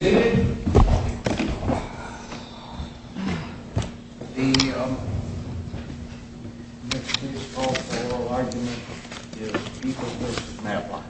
The next case we will call for is People v. Matlock.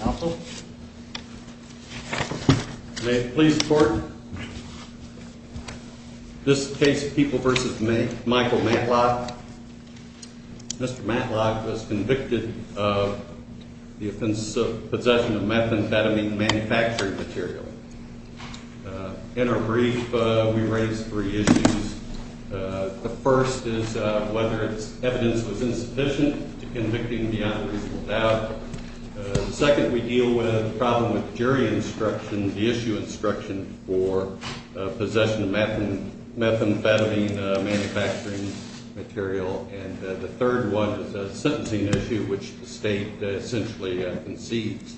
Counsel? May it please the court. This case, People v. Michael Matlock. Mr. Matlock was convicted of the offense of possession of methamphetamine manufacturing material. In our brief, we raise three issues. The first is whether its evidence was insufficient to convict him beyond reasonable doubt. The second we deal with the problem with jury instruction, the issue instruction for possession of methamphetamine manufacturing material. And the third one is a sentencing issue, which the state essentially concedes.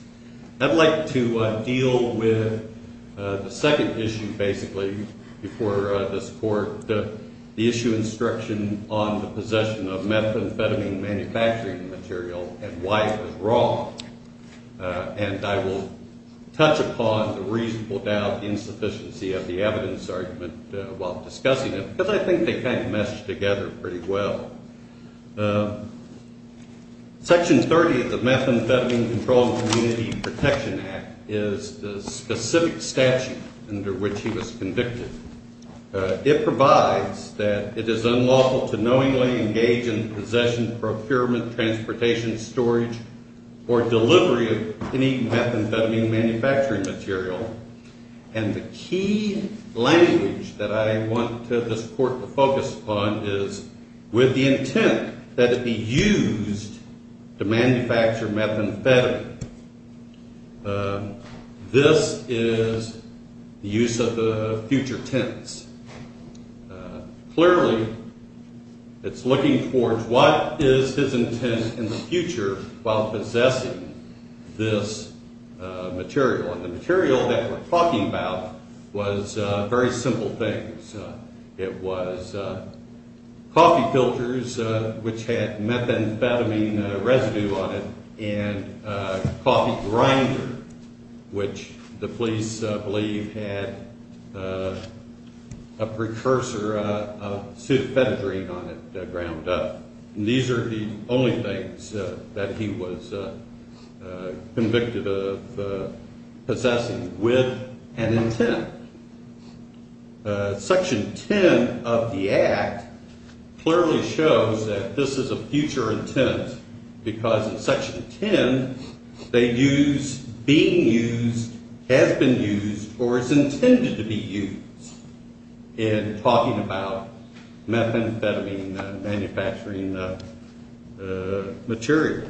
I'd like to deal with the second issue, basically, before this court, the issue instruction on the possession of methamphetamine manufacturing material and why it was wrong. And I will touch upon the reasonable doubt, the insufficiency of the evidence argument while discussing it because I think they kind of mesh together pretty well. Section 30 of the Methamphetamine Control and Community Protection Act is the specific statute under which he was convicted. It provides that it is unlawful to knowingly engage in possession, procurement, transportation, storage, or delivery of any methamphetamine manufacturing material. And the key language that I want this court to focus upon is with the intent that it be used to manufacture methamphetamine. This is the use of the future tense. Clearly, it's looking towards what is his intent in the future while possessing this material. And the material that we're talking about was very simple things. It was coffee filters, which had methamphetamine residue on it, and a coffee grinder, which the police believe had a precursor of sulfetadrine on it ground up. And these are the only things that he was convicted of possessing with an intent. Section 10 of the Act clearly shows that this is a future intent because in Section 10, they use being used, has been used, or is intended to be used in talking about methamphetamine manufacturing material.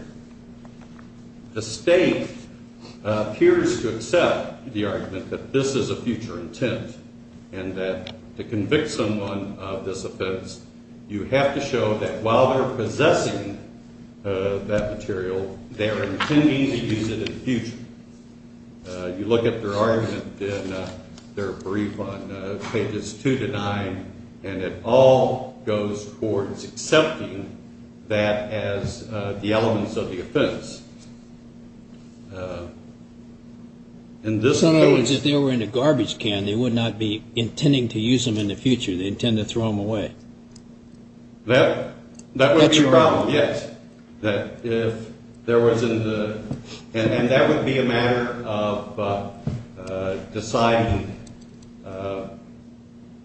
The state appears to accept the argument that this is a future intent and that to convict someone of this offense, you have to show that while they're possessing that material, they are intending to use it in the future. You look at their argument in their brief on pages 2 to 9, and it all goes towards accepting that as the elements of the offense. In other words, if they were in a garbage can, they would not be intending to use them in the future. They intend to throw them away. That would be a problem, yes. And that would be a matter of deciding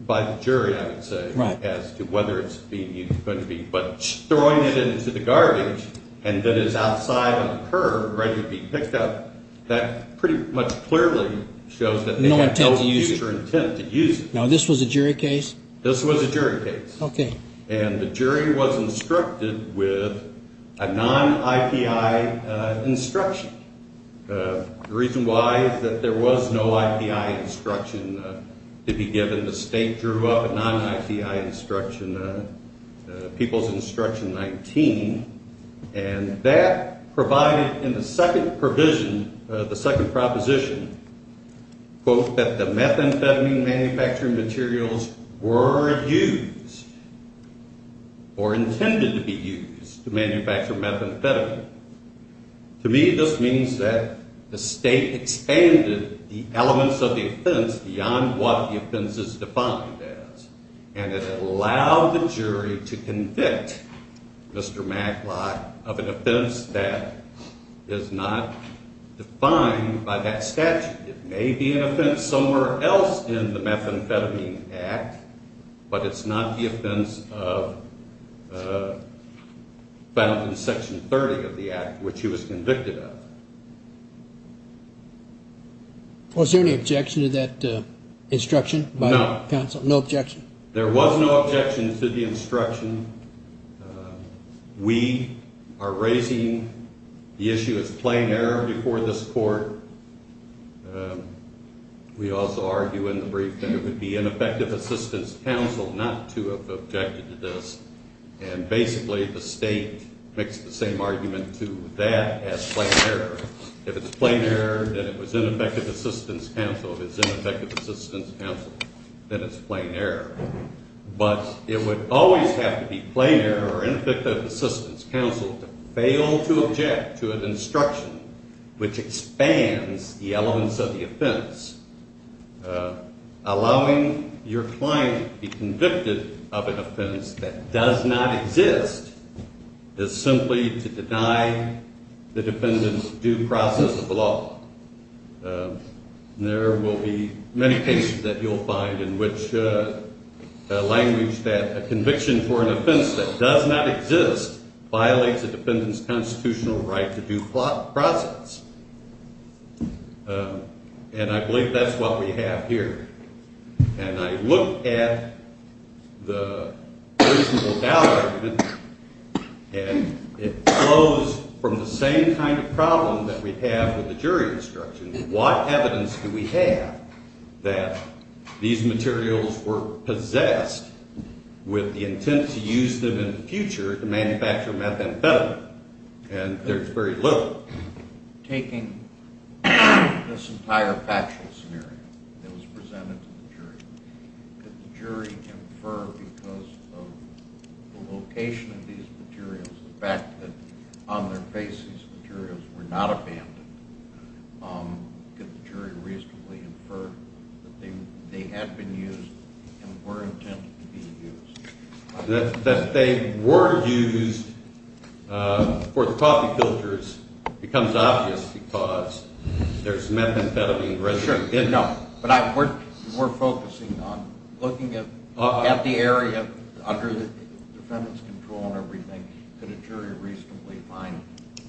by the jury, I would say, as to whether it's being used or going to be. But throwing it into the garbage and that it's outside on a curb ready to be picked up, that pretty much clearly shows that they have no future intent to use it. Now, this was a jury case? This was a jury case. Okay. And the jury was instructed with a non-IPI instruction. The reason why is that there was no IPI instruction to be given. The state drew up a non-IPI instruction, People's Instruction 19. And that provided in the second provision, the second proposition, quote, that the methamphetamine manufacturing materials were used or intended to be used to manufacture methamphetamine. To me, this means that the state expanded the elements of the offense beyond what the offense is defined as. And it allowed the jury to convict Mr. Maglott of an offense that is not defined by that statute. It may be an offense somewhere else in the Methamphetamine Act, but it's not the offense found in Section 30 of the Act, which he was convicted of. Was there any objection to that instruction by the counsel? No objection. There was no objection to the instruction. We are raising the issue as plain error before this court. We also argue in the brief that it would be ineffective assistance counsel not to have objected to this. And basically, the state makes the same argument to that as plain error. If it's plain error, then it was ineffective assistance counsel. If it's ineffective assistance counsel, then it's plain error. But it would always have to be plain error or ineffective assistance counsel to fail to object to an instruction which expands the elements of the offense. Allowing your client to be convicted of an offense that does not exist is simply to deny the defendant's due process of the law. There will be many cases that you'll find in which the language that a conviction for an offense that does not exist violates a defendant's constitutional right to due process. And I believe that's what we have here. And I look at the reasonable doubt argument, and it flows from the same kind of problem that we have with the jury instruction. What evidence do we have that these materials were possessed with the intent to use them in the future to manufacture methamphetamine? And there's very little. What about taking this entire factual scenario that was presented to the jury? Could the jury infer because of the location of these materials, the fact that on their face these materials were not abandoned, could the jury reasonably infer that they had been used and were intended to be used? That they were used for the coffee filters becomes obvious because there's methamphetamine residue. No, but we're focusing on looking at the area under the defendant's control and everything. Could a jury reasonably find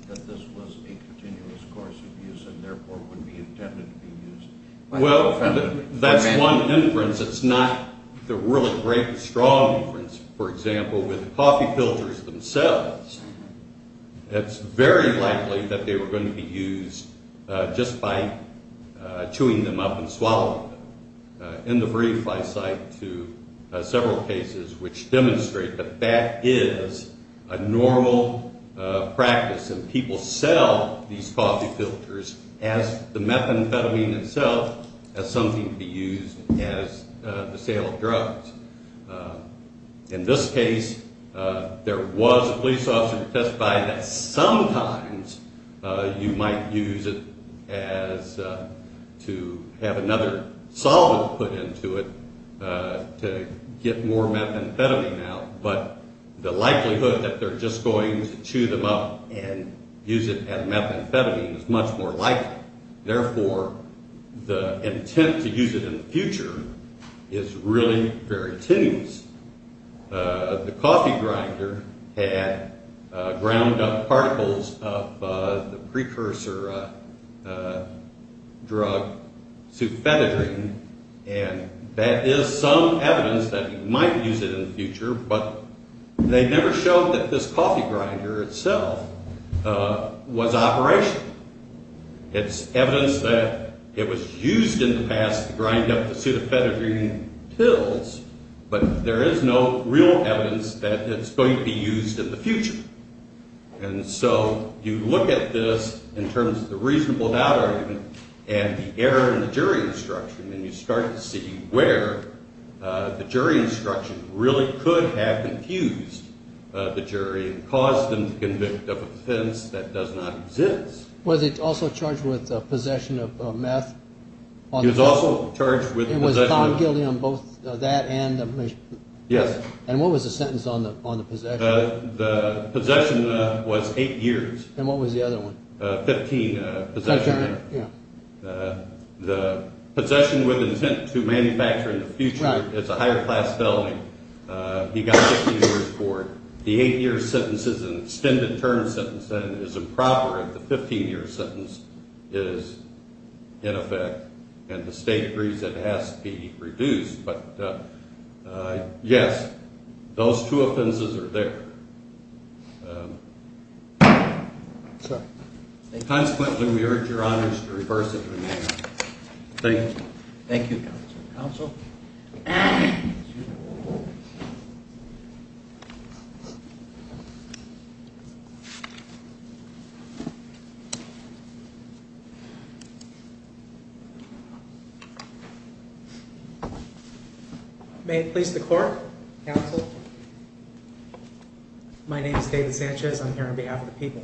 that this was a continuous course of use and therefore would be intended to be used? Well, that's one inference. It's not the really great, strong inference. For example, with coffee filters themselves, it's very likely that they were going to be used just by chewing them up and swallowing them. In the brief, I cite to several cases which demonstrate that that is a normal practice, and people sell these coffee filters as the methamphetamine itself as something to be used as the sale of drugs. In this case, there was a police officer who testified that sometimes you might use it as to have another solvent put into it to get more methamphetamine out, but the likelihood that they're just going to chew them up and use it as methamphetamine is much more likely. Therefore, the intent to use it in the future is really very tenuous. The coffee grinder had ground-up particles of the precursor drug, sufetadrine, and that is some evidence that you might use it in the future, but they never showed that this coffee grinder itself was operational. It's evidence that it was used in the past to grind up the sufetadrine pills, but there is no real evidence that it's going to be used in the future. And so you look at this in terms of the reasonable doubt argument and the error in the jury instruction, and you start to see where the jury instruction really could have confused the jury and caused them to convict of an offense that does not exist. Was it also charged with possession of meth? It was also charged with possession of meth. It was found guilty on both that and the mission? Yes. And what was the sentence on the possession? The possession was eight years. And what was the other one? Fifteen, possession of meth. The possession with intent to manufacture in the future is a higher class felony. He got 15 years for it. The eight-year sentence is an extended term sentence, and it is improper if the 15-year sentence is in effect, and the State agrees it has to be reduced. But, yes, those two offenses are there. Sir? Consequently, we urge Your Honors to reverse it. Thank you. Thank you, Counsel. Counsel? Thank you. May it please the Court, Counsel? My name is David Sanchez. I'm here on behalf of the people.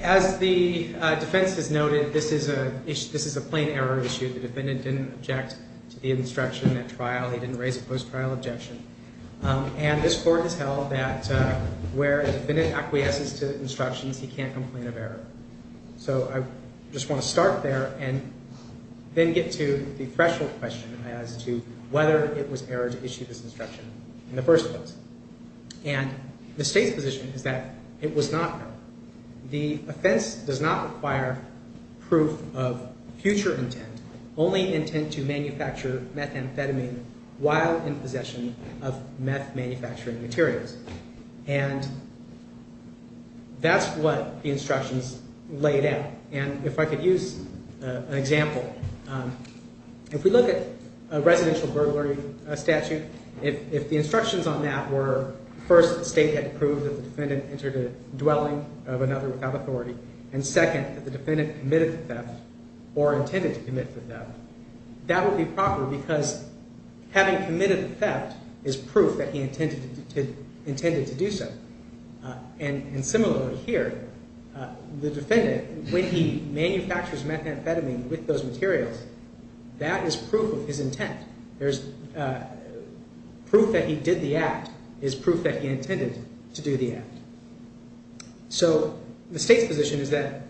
As the defense has noted, this is a plain error issue. The defendant didn't object to the instruction at trial. He didn't raise a post-trial objection. And this Court has held that where a defendant acquiesces to instructions, he can't complain of error. So I just want to start there and then get to the threshold question as to whether it was error to issue this instruction in the first place. And the State's position is that it was not error. The offense does not require proof of future intent, only intent to manufacture methamphetamine while in possession of meth manufacturing materials. And that's what the instructions laid out. And if I could use an example, if we look at a residential burglary statute, if the instructions on that were first, the State had to prove that the defendant entered a dwelling of another without authority, and second, that the defendant committed the theft or intended to commit the theft, that would be proper because having committed the theft is proof that he intended to do so. And similarly here, the defendant, when he manufactures methamphetamine with those materials, that is proof of his intent. There's proof that he did the act is proof that he intended to do the act. So the State's position is that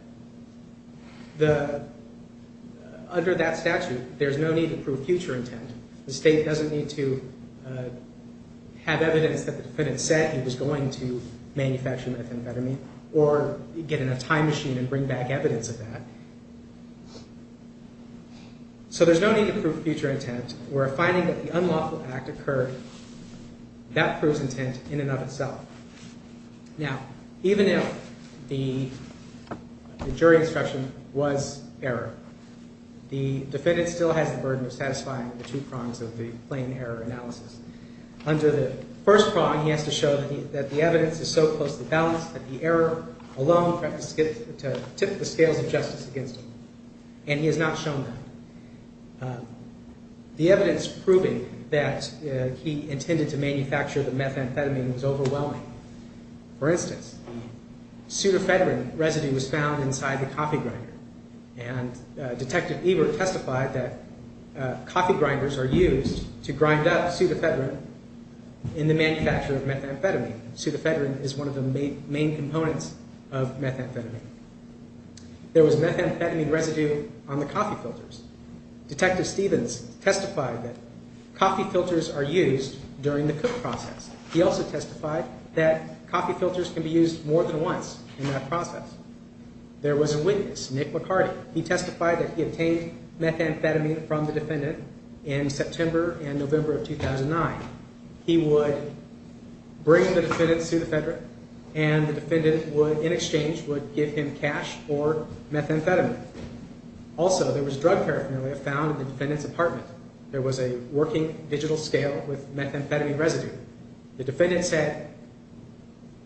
under that statute, there's no need to prove future intent. The State doesn't need to have evidence that the defendant said he was going to manufacture methamphetamine or get in a time machine and bring back evidence of that. So there's no need to prove future intent where a finding that the unlawful act occurred, that proves intent in and of itself. Now, even if the jury instruction was error, the defendant still has the burden of satisfying the two prongs of the plain error analysis. Under the first prong, he has to show that the evidence is so closely balanced that the error alone is enough to tip the scales of justice against him, and he has not shown that. The evidence proving that he intended to manufacture the methamphetamine was overwhelming. For instance, pseudofedrin residue was found inside the coffee grinder, and Detective Ebert testified that coffee grinders are used to grind up pseudofedrin in the manufacture of methamphetamine. Pseudofedrin is one of the main components of methamphetamine. There was methamphetamine residue on the coffee filters. Detective Stevens testified that coffee filters are used during the cook process. He also testified that coffee filters can be used more than once in that process. There was a witness, Nick McCarty. He testified that he obtained methamphetamine from the defendant in September and November of 2009. He would bring the defendant pseudofedrin, and the defendant, in exchange, would give him cash for methamphetamine. Also, there was drug paraphernalia found in the defendant's apartment. There was a working digital scale with methamphetamine residue. The defendant said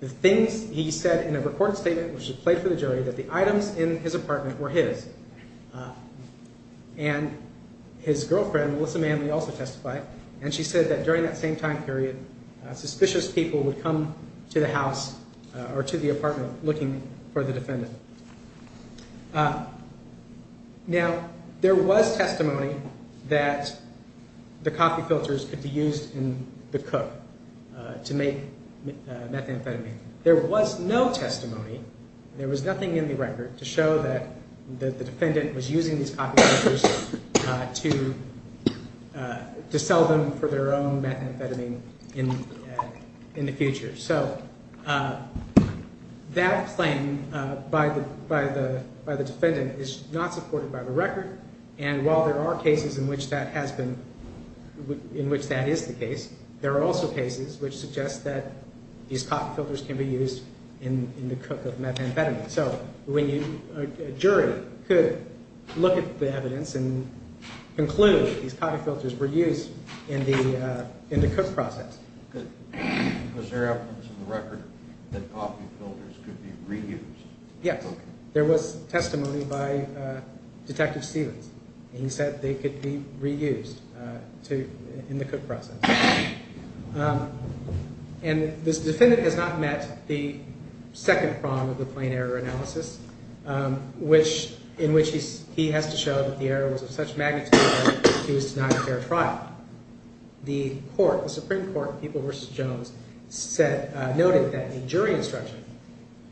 the things he said in a recorded statement, which was played for the jury, that the items in his apartment were his. And his girlfriend, Melissa Manley, also testified. And she said that during that same time period, suspicious people would come to the house or to the apartment looking for the defendant. Now, there was testimony that the coffee filters could be used in the cook to make methamphetamine. There was no testimony. There was nothing in the record to show that the defendant was using these coffee filters to sell them for their own methamphetamine in the future. So that claim by the defendant is not supported by the record. And while there are cases in which that is the case, there are also cases which suggest that these coffee filters can be used in the cook of methamphetamine. So a jury could look at the evidence and conclude these coffee filters were used in the cook process. Was there evidence in the record that coffee filters could be reused? Yes, there was testimony by Detective Stevens. He said they could be reused in the cook process. And this defendant has not met the second prong of the plain error analysis, in which he has to show that the error was of such magnitude that he was denied a fair trial. The Supreme Court, People v. Jones, noted that a jury instruction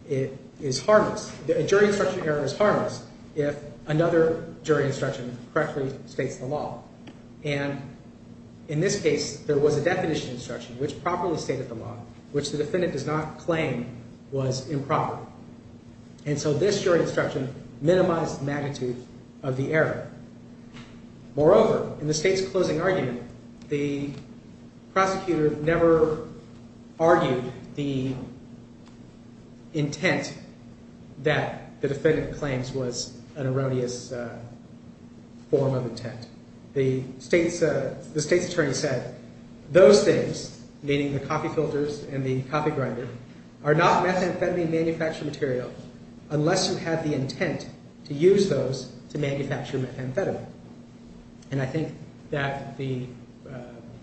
error is harmless if another jury instruction correctly states the law. And in this case, there was a definition instruction which properly stated the law, which the defendant does not claim was improper. And so this jury instruction minimized the magnitude of the error. Moreover, in the State's closing argument, the prosecutor never argued the intent that the defendant claims was an erroneous form of intent. The State's attorney said, those things, meaning the coffee filters and the coffee grinder, are not methamphetamine manufactured material unless you have the intent to use those to manufacture methamphetamine. And I think that the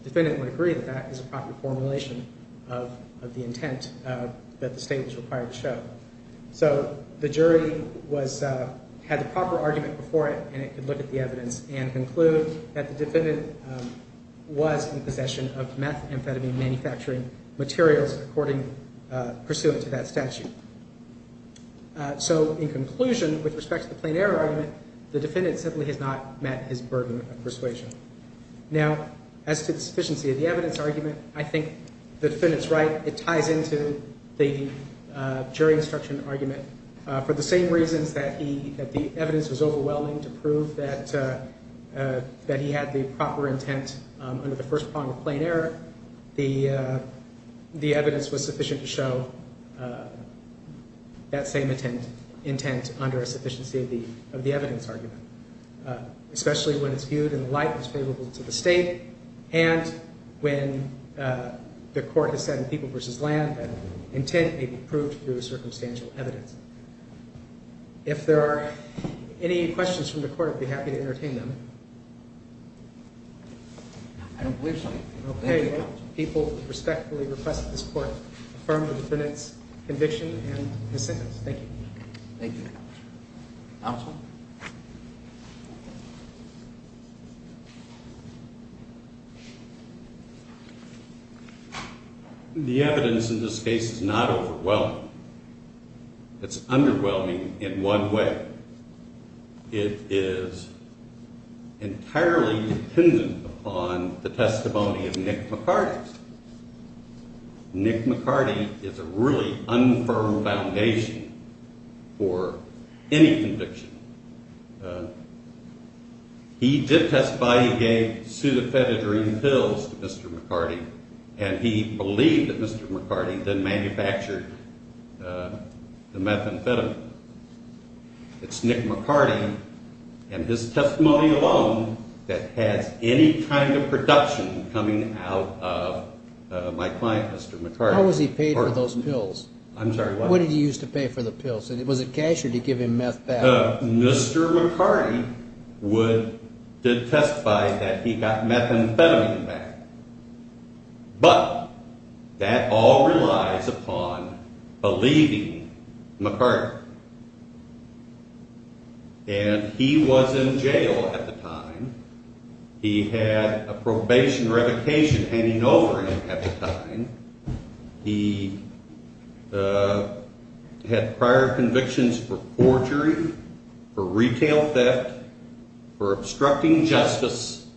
defendant would agree that that is a proper formulation of the intent that the State was required to show. So the jury had the proper argument before it, and it could look at the evidence and conclude that the defendant was in possession of methamphetamine manufacturing materials pursuant to that statute. So in conclusion, with respect to the plain error argument, the defendant simply has not met his burden of persuasion. Now, as to the sufficiency of the evidence argument, I think the defendant's right. It ties into the jury instruction argument. For the same reasons that the evidence was overwhelming to prove that he had the proper intent under the first prong of plain error, the evidence was sufficient to show that same intent under a sufficiency of the evidence argument, especially when it's viewed in the light that's favorable to the State, and when the court has said in People v. Land that intent may be proved through circumstantial evidence. If there are any questions from the court, I'd be happy to entertain them. I don't believe so. Okay. People respectfully request that this court affirm the defendant's conviction and his sentence. Thank you. Thank you, Counsel. Counsel? The evidence in this case is not overwhelming. It's underwhelming in one way. It is entirely dependent upon the testimony of Nick McCarty. Nick McCarty is a really unfirmed foundation for any conviction. He did testify. He gave pseudofetidurine pills to Mr. McCarty, and he believed that Mr. McCarty then manufactured the methamphetamine. It's Nick McCarty and his testimony alone that has any kind of production coming out of my client, Mr. McCarty. How was he paid for those pills? I'm sorry, what? What did he use to pay for the pills? Was it cash or did he give him meth back? Mr. McCarty did testify that he got methamphetamine back, but that all relies upon believing McCarty, and he was in jail at the time. He had a probation revocation handing over him at the time. He had prior convictions for forgery, for retail theft, for obstructing justice,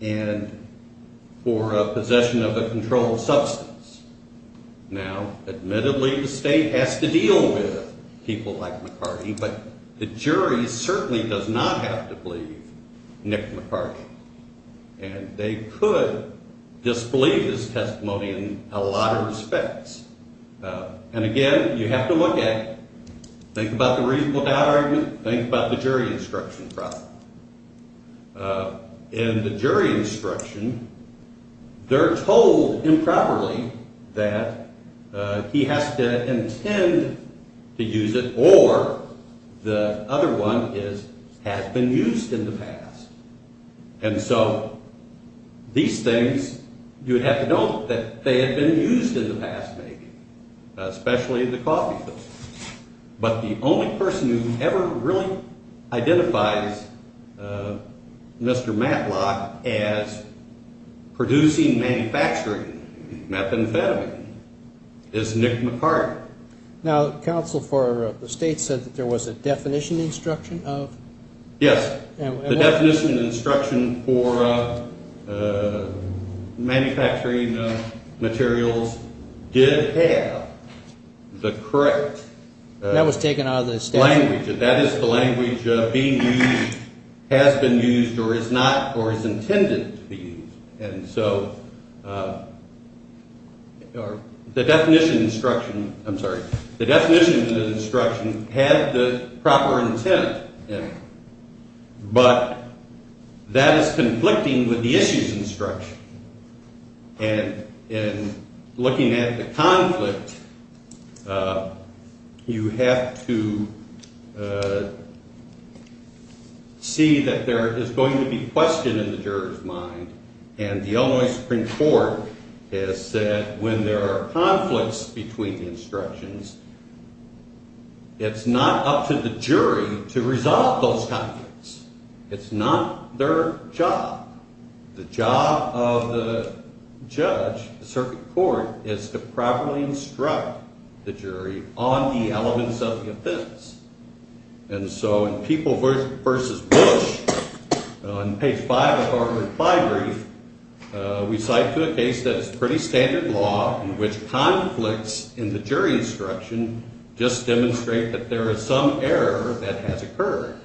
and for possession of a controlled substance. Now, admittedly, the state has to deal with people like McCarty, but the jury certainly does not have to believe Nick McCarty. And they could disbelieve this testimony in a lot of respects. And again, you have to look at it. Think about the reasonable doubt argument. Think about the jury instruction problem. In the jury instruction, they're told improperly that he has to intend to use it or the other one has been used in the past. And so these things, you would have to note that they had been used in the past, maybe, especially the coffee pills. But the only person who ever really identifies Mr. Matlock as producing, manufacturing methamphetamine is Nick McCarty. Now, counsel for the state said that there was a definition instruction of? Yes. The definition instruction for manufacturing materials did have the correct. That was taken out of the statute. That is the language being used has been used or is not or is intended to be used. And so the definition instruction, I'm sorry, the definition of the instruction had the proper intent in it. But that is conflicting with the issues instruction. And in looking at the conflict, you have to see that there is going to be question in the jurors mind. And the Illinois Supreme Court has said when there are conflicts between instructions, it's not up to the jury to resolve those conflicts. It's not their job. The job of the judge, the circuit court, is to properly instruct the jury on the elements of the offense. And so in People v. Bush, on page five of our reply brief, we cite to a case that is pretty standard law in which conflicts in the jury instruction just demonstrate that there is some error that has occurred.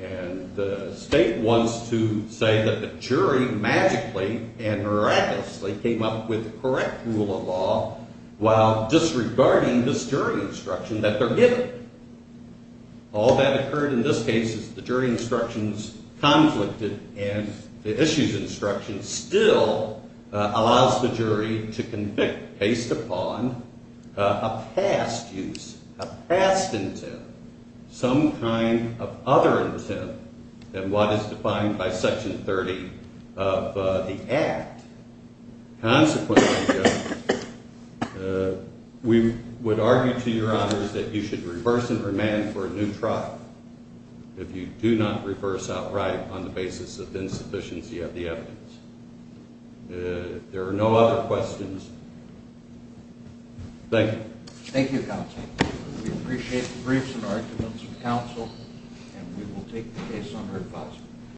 And the state wants to say that the jury magically and miraculously came up with the correct rule of law while disregarding this jury instruction that they're given. All that occurred in this case is the jury instructions conflicted and the issues instruction still allows the jury to convict based upon a past use, a past intent. Some kind of other intent than what is defined by Section 30 of the Act. Consequently, we would argue to your honors that you should reverse and remand for a new trial if you do not reverse outright on the basis of insufficiency of the evidence. If there are no other questions, thank you. Thank you, counsel. We appreciate the briefs and arguments of counsel, and we will take the case under advisement.